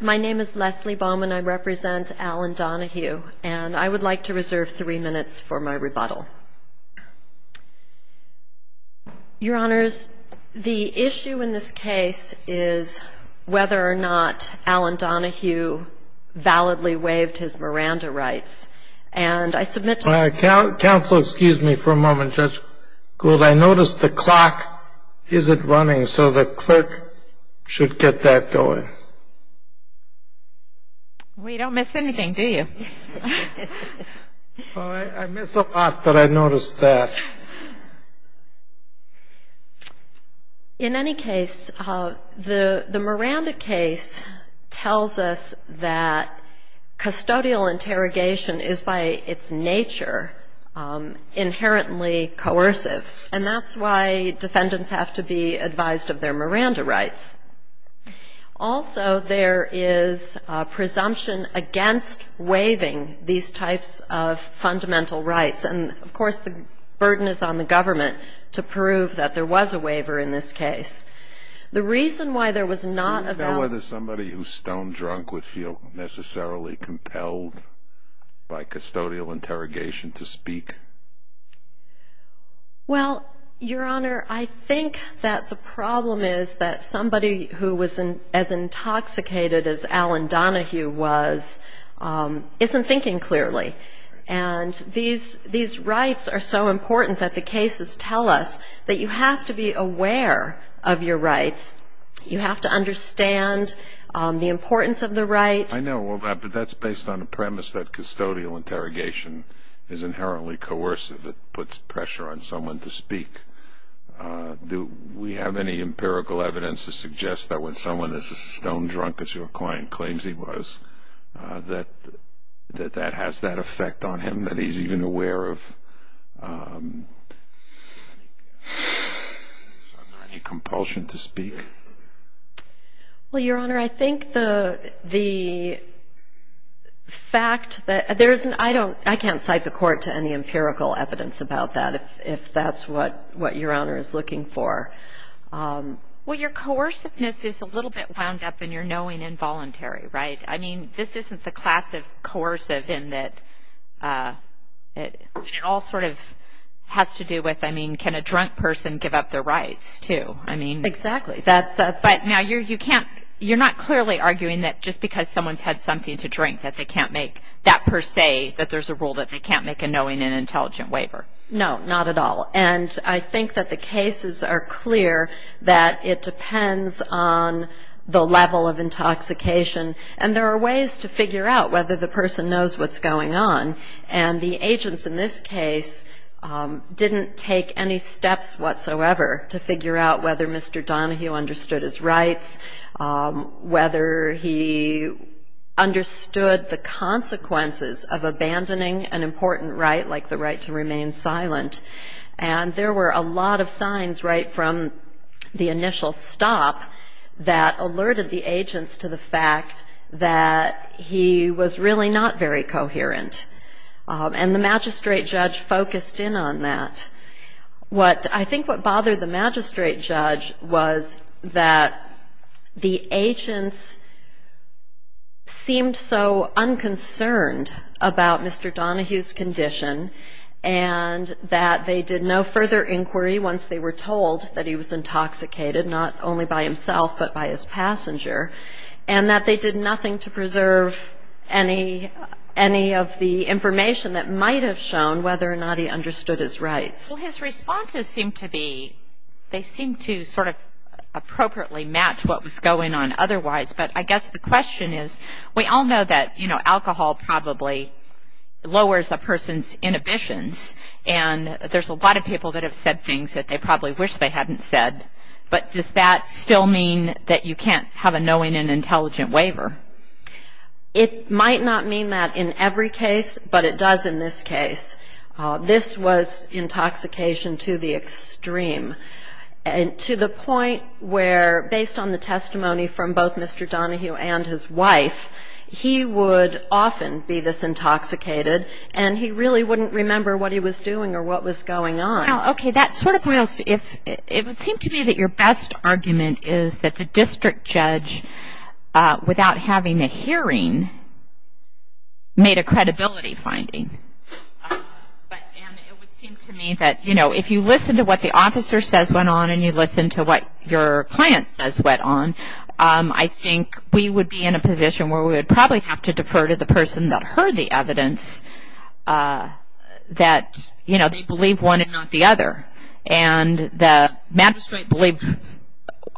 My name is Leslie Bowman. I represent Allen Donahue, and I would like to reserve three minutes for my rebuttal. Your Honors, the issue in this case is whether or not Allen Donahue validly waived his Miranda rights. Counsel, excuse me for a moment, Judge Gould. I noticed the clock isn't running, so the clerk should get that going. We don't miss anything, do you? I miss a lot, but I noticed that. In any case, the Miranda case tells us that custodial interrogation is by its nature inherently coercive, and that's why defendants have to be advised of their Miranda rights. Also, there is presumption against waiving these types of fundamental rights, and of course the burden is on the government to prove that there was a waiver in this case. The reason why there was not a valid... Do you know whether somebody who's stone drunk would feel necessarily compelled by custodial interrogation to speak? Well, Your Honor, I think that the problem is that somebody who was as intoxicated as Allen Donahue was isn't thinking clearly, and these rights are so important that the cases tell us that you have to be aware of your rights. You have to understand the importance of the right. I know, but that's based on the premise that custodial interrogation is inherently coercive. It puts pressure on someone to speak. Do we have any empirical evidence to suggest that when someone is as stone drunk as your client claims he was, that that has that effect on him, that he's even aware of his compulsion to speak? Well, Your Honor, I think the fact that... I can't cite the court to any empirical evidence about that if that's what Your Honor is looking for. Well, your coerciveness is a little bit wound up in your knowing involuntary, right? I mean, this isn't the class of coercive in that it all sort of has to do with, I mean, can a drunk person give up their rights too? I mean... Exactly. But now you can't... You're not clearly arguing that just because someone's had something to drink that they can't make that per se, that there's a rule that they can't make a knowing and intelligent waiver? No, not at all. And I think that the cases are clear that it depends on the level of intoxication, and there are ways to figure out whether the person knows what's going on. And the agents in this case didn't take any steps whatsoever to figure out whether Mr. Donahue understood his rights, whether he understood the consequences of abandoning an important right like the right to remain silent. And there were a lot of signs right from the initial stop that alerted the agents to the fact that he was really not very coherent. And the magistrate judge focused in on that. I think what bothered the magistrate judge was that the agents seemed so unconcerned about Mr. Donahue's condition and that they did no further inquiry once they were told that he was intoxicated, not only by himself but by his passenger, and that they did nothing to preserve any of the information that might have shown whether or not he understood his rights. Well, his responses seem to be... They seem to sort of appropriately match what was going on otherwise. But I guess the question is, we all know that, you know, alcohol probably lowers a person's inhibitions, and there's a lot of people that have said things that they probably wish they hadn't said, but does that still mean that you can't have a knowing and intelligent waiver? It might not mean that in every case, but it does in this case. This was intoxication to the extreme and to the point where, based on the testimony from both Mr. Donahue and his wife, he would often be this intoxicated and he really wouldn't remember what he was doing or what was going on. Okay. That sort of points to if it would seem to me that your best argument is that the district judge, without having a hearing, made a credibility finding. And it would seem to me that, you know, if you listen to what the officer says went on and you listen to what your client says went on, I think we would be in a position where we would probably have to defer to the person that heard the evidence that, you know, they believe one and not the other. And the magistrate believed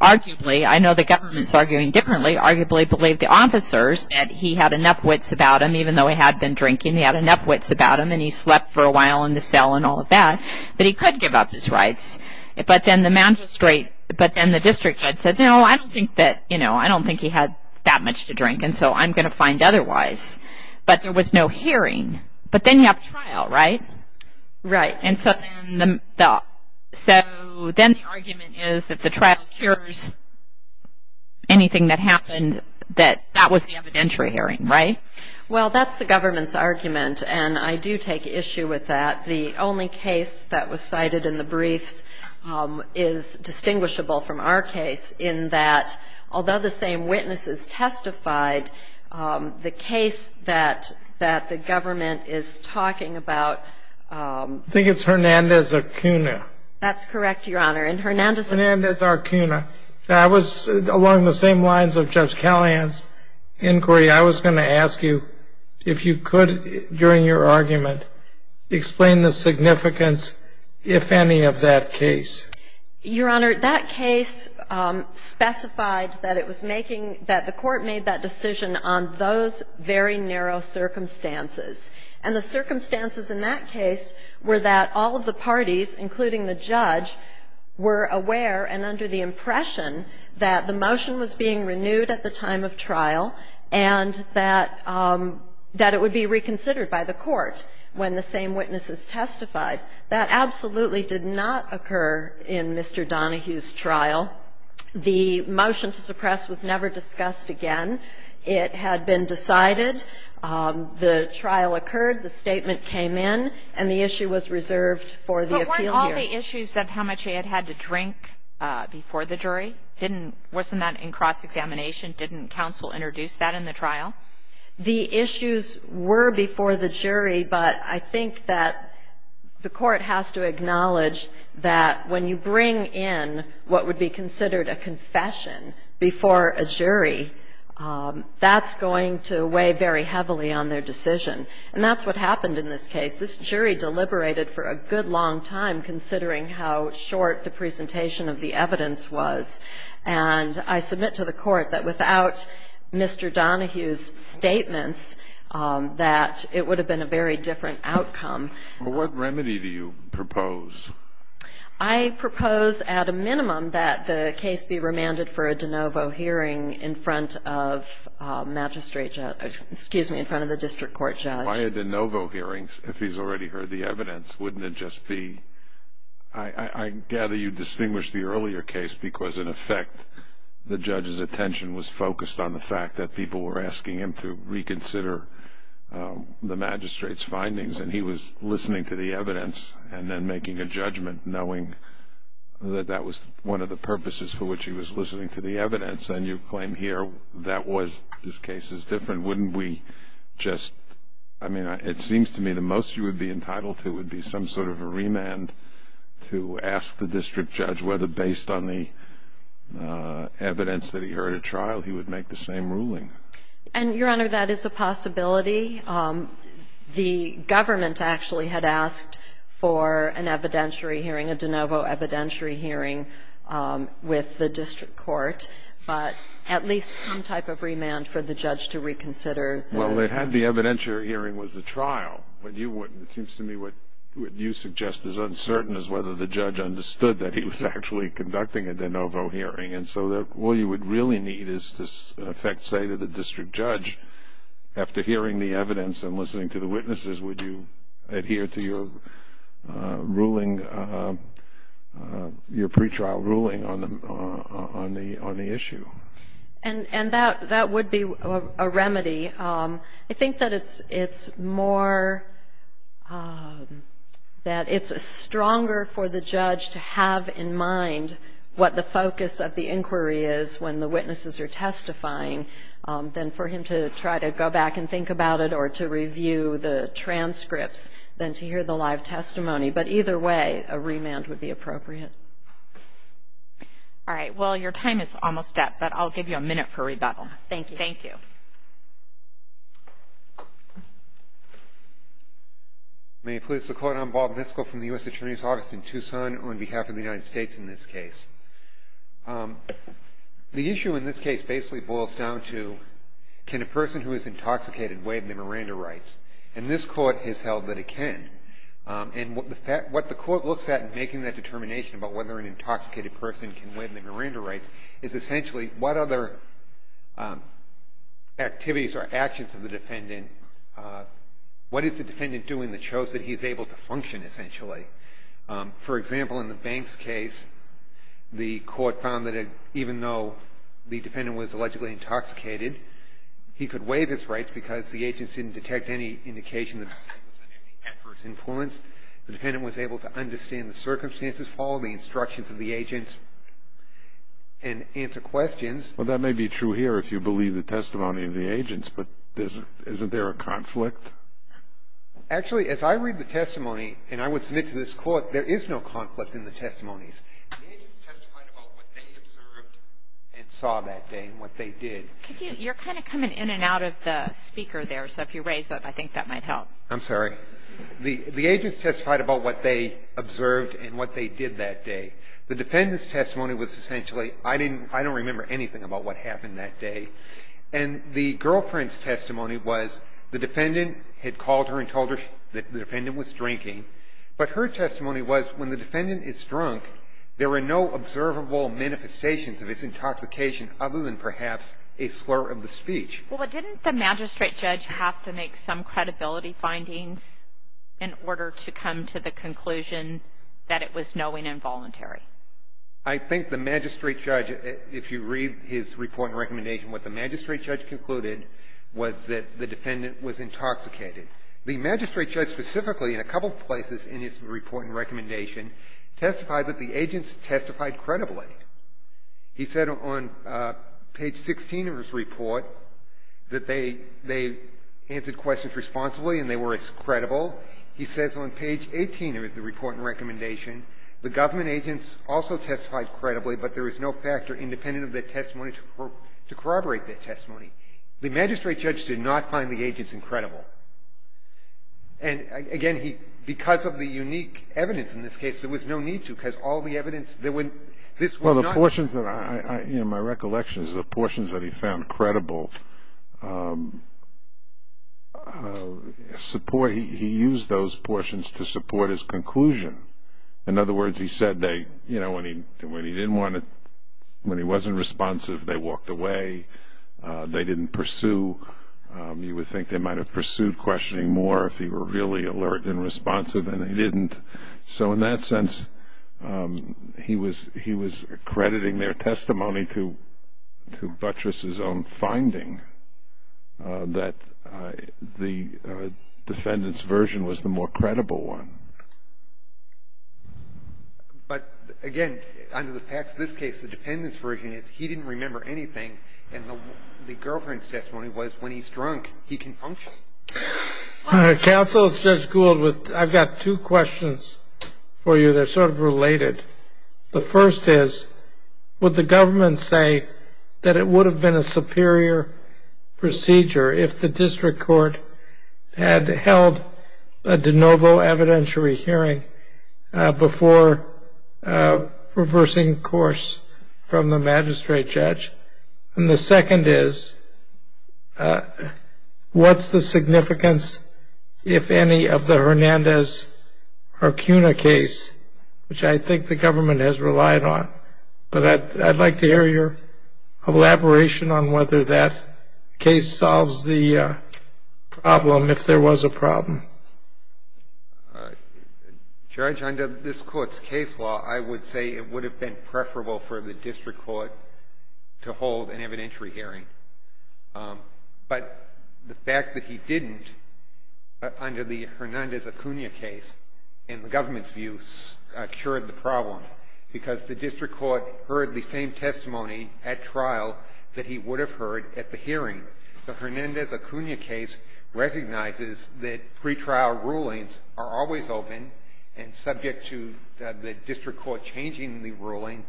arguably, I know the government is arguing differently, arguably believed the officers that he had enough wits about him, even though he had been drinking, he had enough wits about him and he slept for a while in the cell and all of that, that he could give up his rights. But then the magistrate, but then the district judge said, no, I don't think that, you know, I don't think he had that much to drink and so I'm going to find otherwise. But there was no hearing. But then you have trial, right? Right. And so then the argument is if the trial cures anything that happened, that that was the evidentiary hearing, right? Well, that's the government's argument and I do take issue with that. The only case that was cited in the briefs is distinguishable from our case in that, although the same witnesses testified, the case that the government is talking about I think it's Hernandez-Arcuna. That's correct, Your Honor. And Hernandez-Arcuna. That was along the same lines of Judge Callahan's inquiry. I was going to ask you if you could, during your argument, explain the significance, if any, of that case. Your Honor, that case specified that it was making, that the court made that decision on those very narrow circumstances. And the circumstances in that case were that all of the parties, including the judge, were aware and under the impression that the motion was being renewed at the time of trial and that it would be reconsidered by the court when the same witnesses testified. That absolutely did not occur in Mr. Donohue's trial. The motion to suppress was never discussed again. It had been decided. The trial occurred. The statement came in. And the issue was reserved for the appeal hearing. But weren't all the issues of how much he had had to drink before the jury? Didn't, wasn't that in cross-examination? Didn't counsel introduce that in the trial? The issues were before the jury, but I think that the court has to acknowledge that when you bring in what would be considered a confession before a jury, that's going to weigh very heavily on their decision. And that's what happened in this case. This jury deliberated for a good long time, considering how short the presentation of the evidence was. And I submit to the court that without Mr. Donohue's statements, that it would have been a very different outcome. What remedy do you propose? I propose at a minimum that the case be remanded for a de novo hearing in front of magistrate, excuse me, in front of the district court judge. Why a de novo hearing if he's already heard the evidence? Wouldn't it just be, I gather you distinguished the earlier case because, in effect, the judge's attention was focused on the fact that people were asking him to reconsider the magistrate's findings. And he was listening to the evidence and then making a judgment, knowing that that was one of the purposes for which he was listening to the evidence. And you claim here that was, this case is different. Wouldn't we just, I mean, it seems to me the most you would be entitled to would be some sort of a remand to ask the district judge whether based on the evidence that he heard at trial, he would make the same ruling. And, Your Honor, that is a possibility. The government actually had asked for an evidentiary hearing, a de novo evidentiary hearing with the district court. But at least some type of remand for the judge to reconsider. Well, they had the evidentiary hearing was the trial. But you wouldn't. It seems to me what you suggest is uncertain is whether the judge understood that he was actually conducting a de novo hearing. And so all you would really need is to in effect say to the district judge, after hearing the evidence and listening to the witnesses, would you adhere to your ruling, your pretrial ruling on the issue. And that would be a remedy. I think that it's more, that it's stronger for the judge to have in mind what the focus of the inquiry is when the witnesses are testifying than for him to try to go back and think about it or to review the transcripts than to hear the live testimony. But either way, a remand would be appropriate. All right. Well, your time is almost up, but I'll give you a minute for rebuttal. Thank you. Thank you. May it please the Court. I'm Bob Niskell from the U.S. Attorney's Office in Tucson on behalf of the United States in this case. The issue in this case basically boils down to can a person who is intoxicated waive their Miranda rights? And this Court has held that it can. And what the Court looks at in making that determination about whether an intoxicated person can waive their Miranda rights is essentially what other activities or actions of the defendant, what is the defendant doing that shows that he's able to function essentially? For example, in the Banks case, the Court found that even though the defendant was allegedly intoxicated, he could waive his rights because the agents didn't detect any indication that he was under any adverse influence. The defendant was able to understand the circumstances, follow the instructions of the agents, and answer questions. Well, that may be true here if you believe the testimony of the agents, but isn't there a conflict? Actually, as I read the testimony, and I would submit to this Court, there is no conflict in the testimonies. The agents testified about what they observed and saw that day and what they did. You're kind of coming in and out of the speaker there, so if you raise up, I think that might help. I'm sorry. The agents testified about what they observed and what they did that day. The defendant's testimony was essentially, I don't remember anything about what happened that day, and the girlfriend's testimony was the defendant had called her and told her that the defendant was drinking, but her testimony was when the defendant is drunk, there were no observable manifestations of his intoxication other than perhaps a slur of the speech. Well, didn't the magistrate judge have to make some credibility findings in order to come to the conclusion that it was knowing and voluntary? I think the magistrate judge, if you read his report and recommendation, what the magistrate judge concluded was that the defendant was intoxicated. The magistrate judge specifically in a couple of places in his report and recommendation testified that the agents testified credibly. He said on page 16 of his report that they answered questions responsibly and they were as credible. He says on page 18 of the report and recommendation, the government agents also testified credibly, but there was no factor independent of their testimony to corroborate their testimony. The magistrate judge did not find the agents incredible. And, again, he, because of the unique evidence in this case, there was no need to, because all the evidence that when this was not. My recollection is the portions that he found credible, he used those portions to support his conclusion. In other words, he said when he wasn't responsive, they walked away. They didn't pursue. You would think they might have pursued questioning more if he were really alert and responsive, and they didn't. So in that sense, he was accrediting their testimony to buttress' own finding that the defendant's version was the more credible one. But, again, under the facts of this case, the defendant's version is he didn't remember anything, and the girlfriend's testimony was when he's drunk, he can function. Counsel, this is Judge Gould. I've got two questions for you that are sort of related. The first is, would the government say that it would have been a superior procedure if the district court had held a de novo evidentiary hearing before reversing course from the magistrate judge? And the second is, what's the significance, if any, of the Hernandez-Hercuna case, which I think the government has relied on? But I'd like to hear your elaboration on whether that case solves the problem, if there was a problem. Judge, under this Court's case law, I would say it would have been preferable for the district court to hold an evidentiary hearing. But the fact that he didn't, under the Hernandez-Hercuna case, in the government's views, cured the problem, because the district court heard the same testimony at trial that he would have heard at the hearing. The Hernandez-Hercuna case recognizes that pretrial rulings are always open and subject to the district court changing the ruling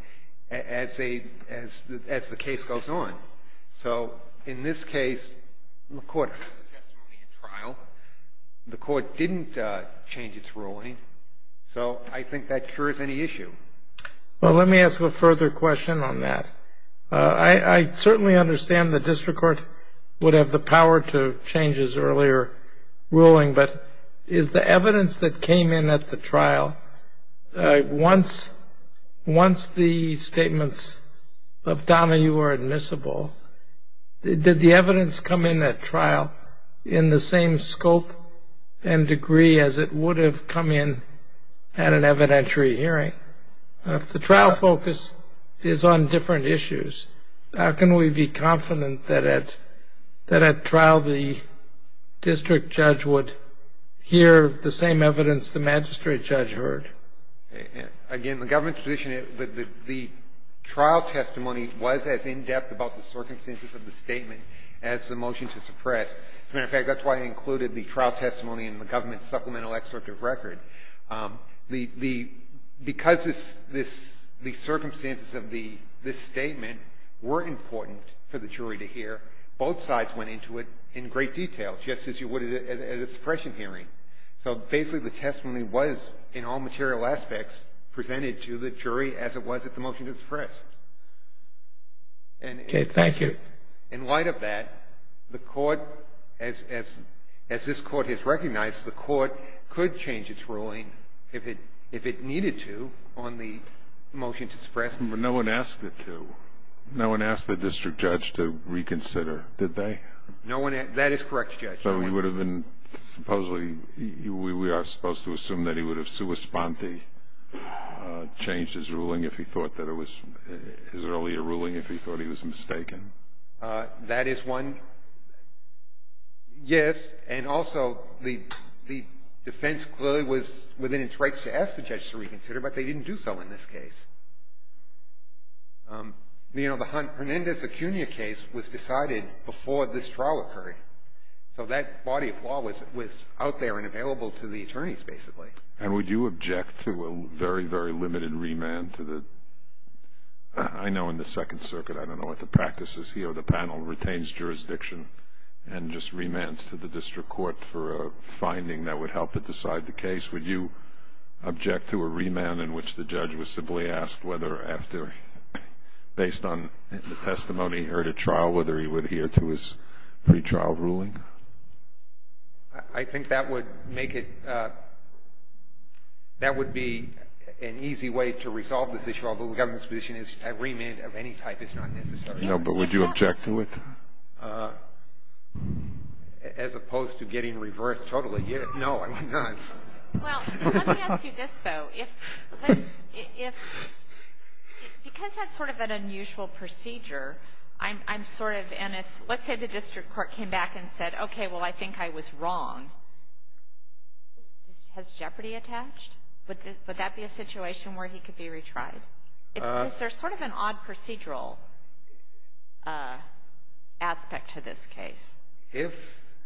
as the case goes on. So in this case, the court heard the testimony at trial. The court didn't change its ruling. So I think that cures any issue. Well, let me ask a further question on that. I certainly understand the district court would have the power to change his earlier ruling, but is the evidence that came in at the trial, once the statements of Donahue were admissible, did the evidence come in at trial in the same scope and degree as it would have come in at an evidentiary hearing? If the trial focus is on different issues, how can we be confident that at trial the district judge would hear the same evidence the magistrate judge heard? Again, in the government's position, the trial testimony was as in-depth about the circumstances of the statement as the motion to suppress. As a matter of fact, that's why I included the trial testimony in the government's supplemental excerpt of record. Because the circumstances of this statement were important for the jury to hear, both sides went into it in great detail, just as you would at a suppression hearing. So basically the testimony was, in all material aspects, presented to the jury as it was at the motion to suppress. And in light of that, the Court, as this Court has recognized, the Court could change its ruling if it needed to on the motion to suppress. But no one asked it to. No one asked the district judge to reconsider, did they? No one asked. That is correct, Judge. So he would have been supposedly, we are supposed to assume that he would have sua sponte, changed his ruling if he thought that it was, his earlier ruling, if he thought he was mistaken? That is one, yes. And also, the defense clearly was within its rights to ask the judge to reconsider, but they didn't do so in this case. You know, the Hernandez Acuna case was decided before this trial occurred. So that body of law was out there and available to the attorneys, basically. And would you object to a very, very limited remand to the, I know in the Second Circuit, I don't know what the practice is here, the panel retains jurisdiction and just remands to the district court for a finding that would help to decide the case? Would you object to a remand in which the judge was simply asked whether after, based on the testimony he heard at trial, whether he would adhere to his pretrial ruling? I think that would make it, that would be an easy way to resolve this issue, although the government's position is a remand of any type is not necessary. No, but would you object to it? As opposed to getting reversed totally. No, I would not. Well, let me ask you this, though. If, because that's sort of an unusual procedure, I'm sort of, and let's say the district court came back and said, okay, well, I think I was wrong. Has jeopardy attached? Would that be a situation where he could be retried? Is there sort of an odd procedural aspect to this case? If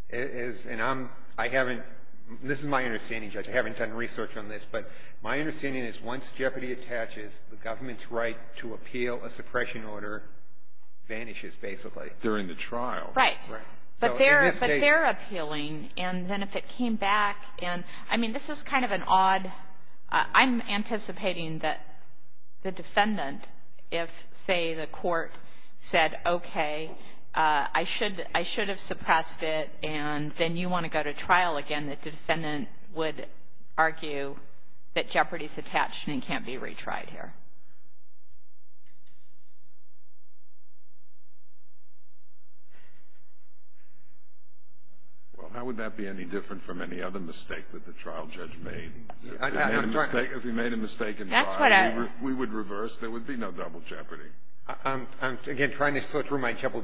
it is, and I'm, I haven't, this is my understanding, Judge, I haven't done research on this, but my understanding is once jeopardy attaches, the government's right to appeal a suppression order vanishes, basically. During the trial. Right. So in this case. But they're appealing, and then if it came back, and I mean, this is kind of an odd, I'm anticipating that the defendant, if, say, the court said, okay, I should have suppressed it, and then you want to go to trial again, that the defendant would argue that jeopardy is attached and can't be retried here. Well, how would that be any different from any other mistake that the trial judge made? If he made a mistake in trial, we would reverse, there would be no double jeopardy. I'm, again, trying to sort through my double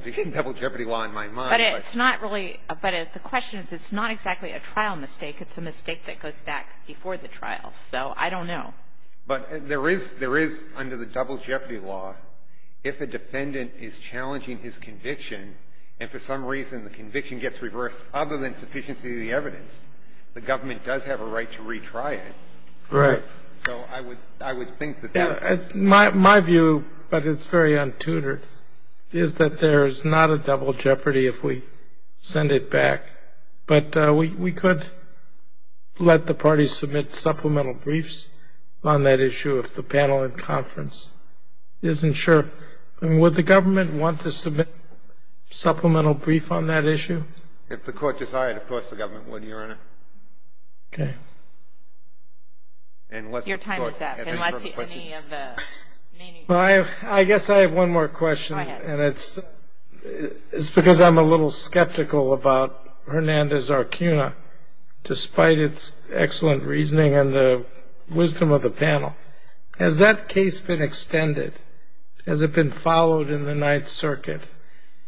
jeopardy law in my mind. But it's not really, but the question is, it's not exactly a trial mistake, it's a mistake that goes back before the trial. So I don't know. But there is, under the double jeopardy law, if a defendant is challenging his conviction and for some reason the conviction gets reversed other than sufficiency of the evidence, the government does have a right to retry it. Right. So I would think that that. My view, but it's very untutored, is that there is not a double jeopardy if we send it back. But we could let the parties submit supplemental briefs on that issue if the panel in conference isn't sure. Would the government want to submit supplemental brief on that issue? If the court decides, of course the government would, Your Honor. Okay. Your time is up. I guess I have one more question. Go ahead. It's because I'm a little skeptical about Hernandez-Arcuna, despite its excellent reasoning and the wisdom of the panel. Has that case been extended? Has it been followed in the Ninth Circuit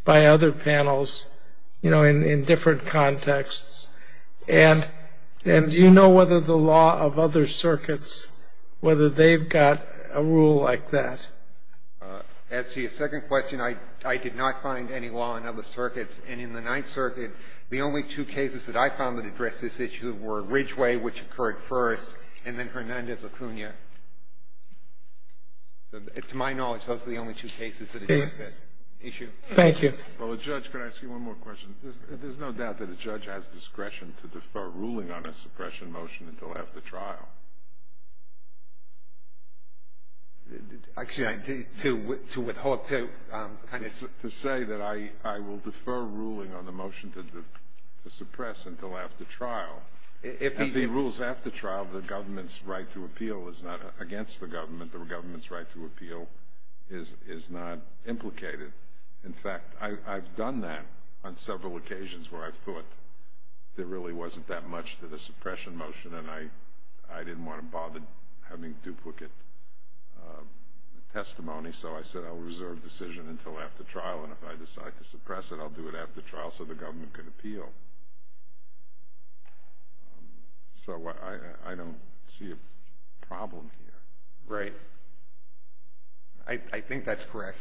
by other panels, you know, in different contexts? And do you know whether the law of other circuits, whether they've got a rule like that? As to your second question, I did not find any law in other circuits. And in the Ninth Circuit, the only two cases that I found that addressed this issue were Ridgeway, which occurred first, and then Hernandez-Arcuna. To my knowledge, those are the only two cases that addressed that issue. Thank you. Well, Judge, can I ask you one more question? There's no doubt that a judge has discretion to defer ruling on a suppression motion until after trial. Actually, to withhold, to kind of... To say that I will defer ruling on the motion to suppress until after trial. If he rules after trial, the government's right to appeal is not against the government. The government's right to appeal is not implicated. In fact, I've done that on several occasions where I've thought there really wasn't that much for the suppression motion, and I didn't want to bother having duplicate testimony, so I said I'll reserve decision until after trial. And if I decide to suppress it, I'll do it after trial so the government can appeal. So I don't see a problem here. Right. I think that's correct.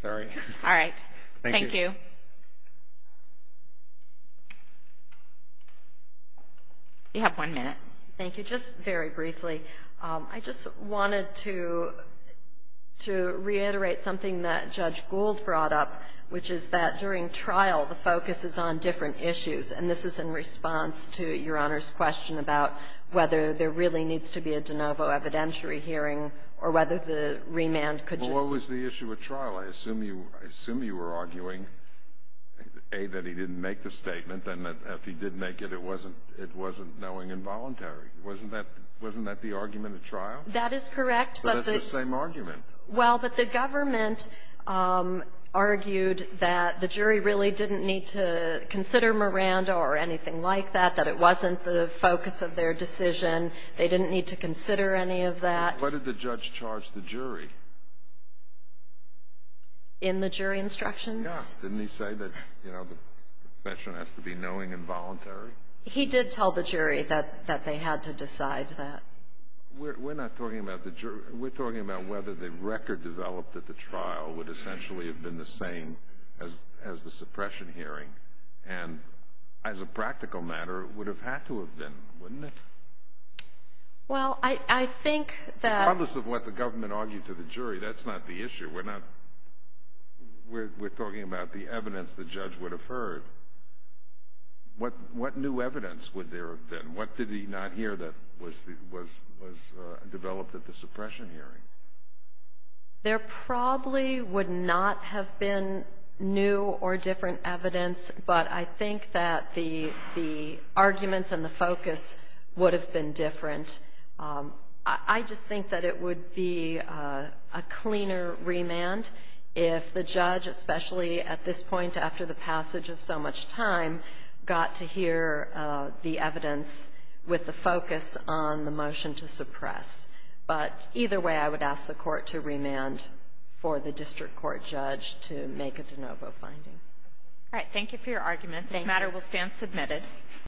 Sorry. All right. Thank you. You have one minute. Thank you. Just very briefly, I just wanted to reiterate something that Judge Gould brought up, which is that during trial the focus is on different issues, and this is in response to Your Honor's question about whether there really needs to be a de novo evidentiary hearing or whether the remand could just be... Well, what was the issue at trial? I assume you were arguing, A, that he didn't make the statement, and that if he did make it, it wasn't knowing involuntary. Wasn't that the argument at trial? That is correct. But it's the same argument. Well, but the government argued that the jury really didn't need to consider Miranda or anything like that, that it wasn't the focus of their decision. They didn't need to consider any of that. What did the judge charge the jury? In the jury instructions? Yeah. Didn't he say that the profession has to be knowing and voluntary? He did tell the jury that they had to decide that. We're not talking about the jury. We're talking about whether the record developed at the trial would essentially have been the same as the suppression hearing. And as a practical matter, it would have had to have been, wouldn't it? Well, I think that... Regardless of what the government argued to the jury, that's not the issue. We're talking about the evidence the judge would have heard. What new evidence would there have been? What did he not hear that was developed at the suppression hearing? There probably would not have been new or different evidence, but I think that the arguments and the focus would have been different. I just think that it would be a cleaner remand if the judge, especially at this point after the passage of so much time, got to hear the evidence with the focus on the motion to suppress. But either way, I would ask the court to remand for the district court judge to make a de novo finding. All right. Thank you for your argument. This matter will stand submitted.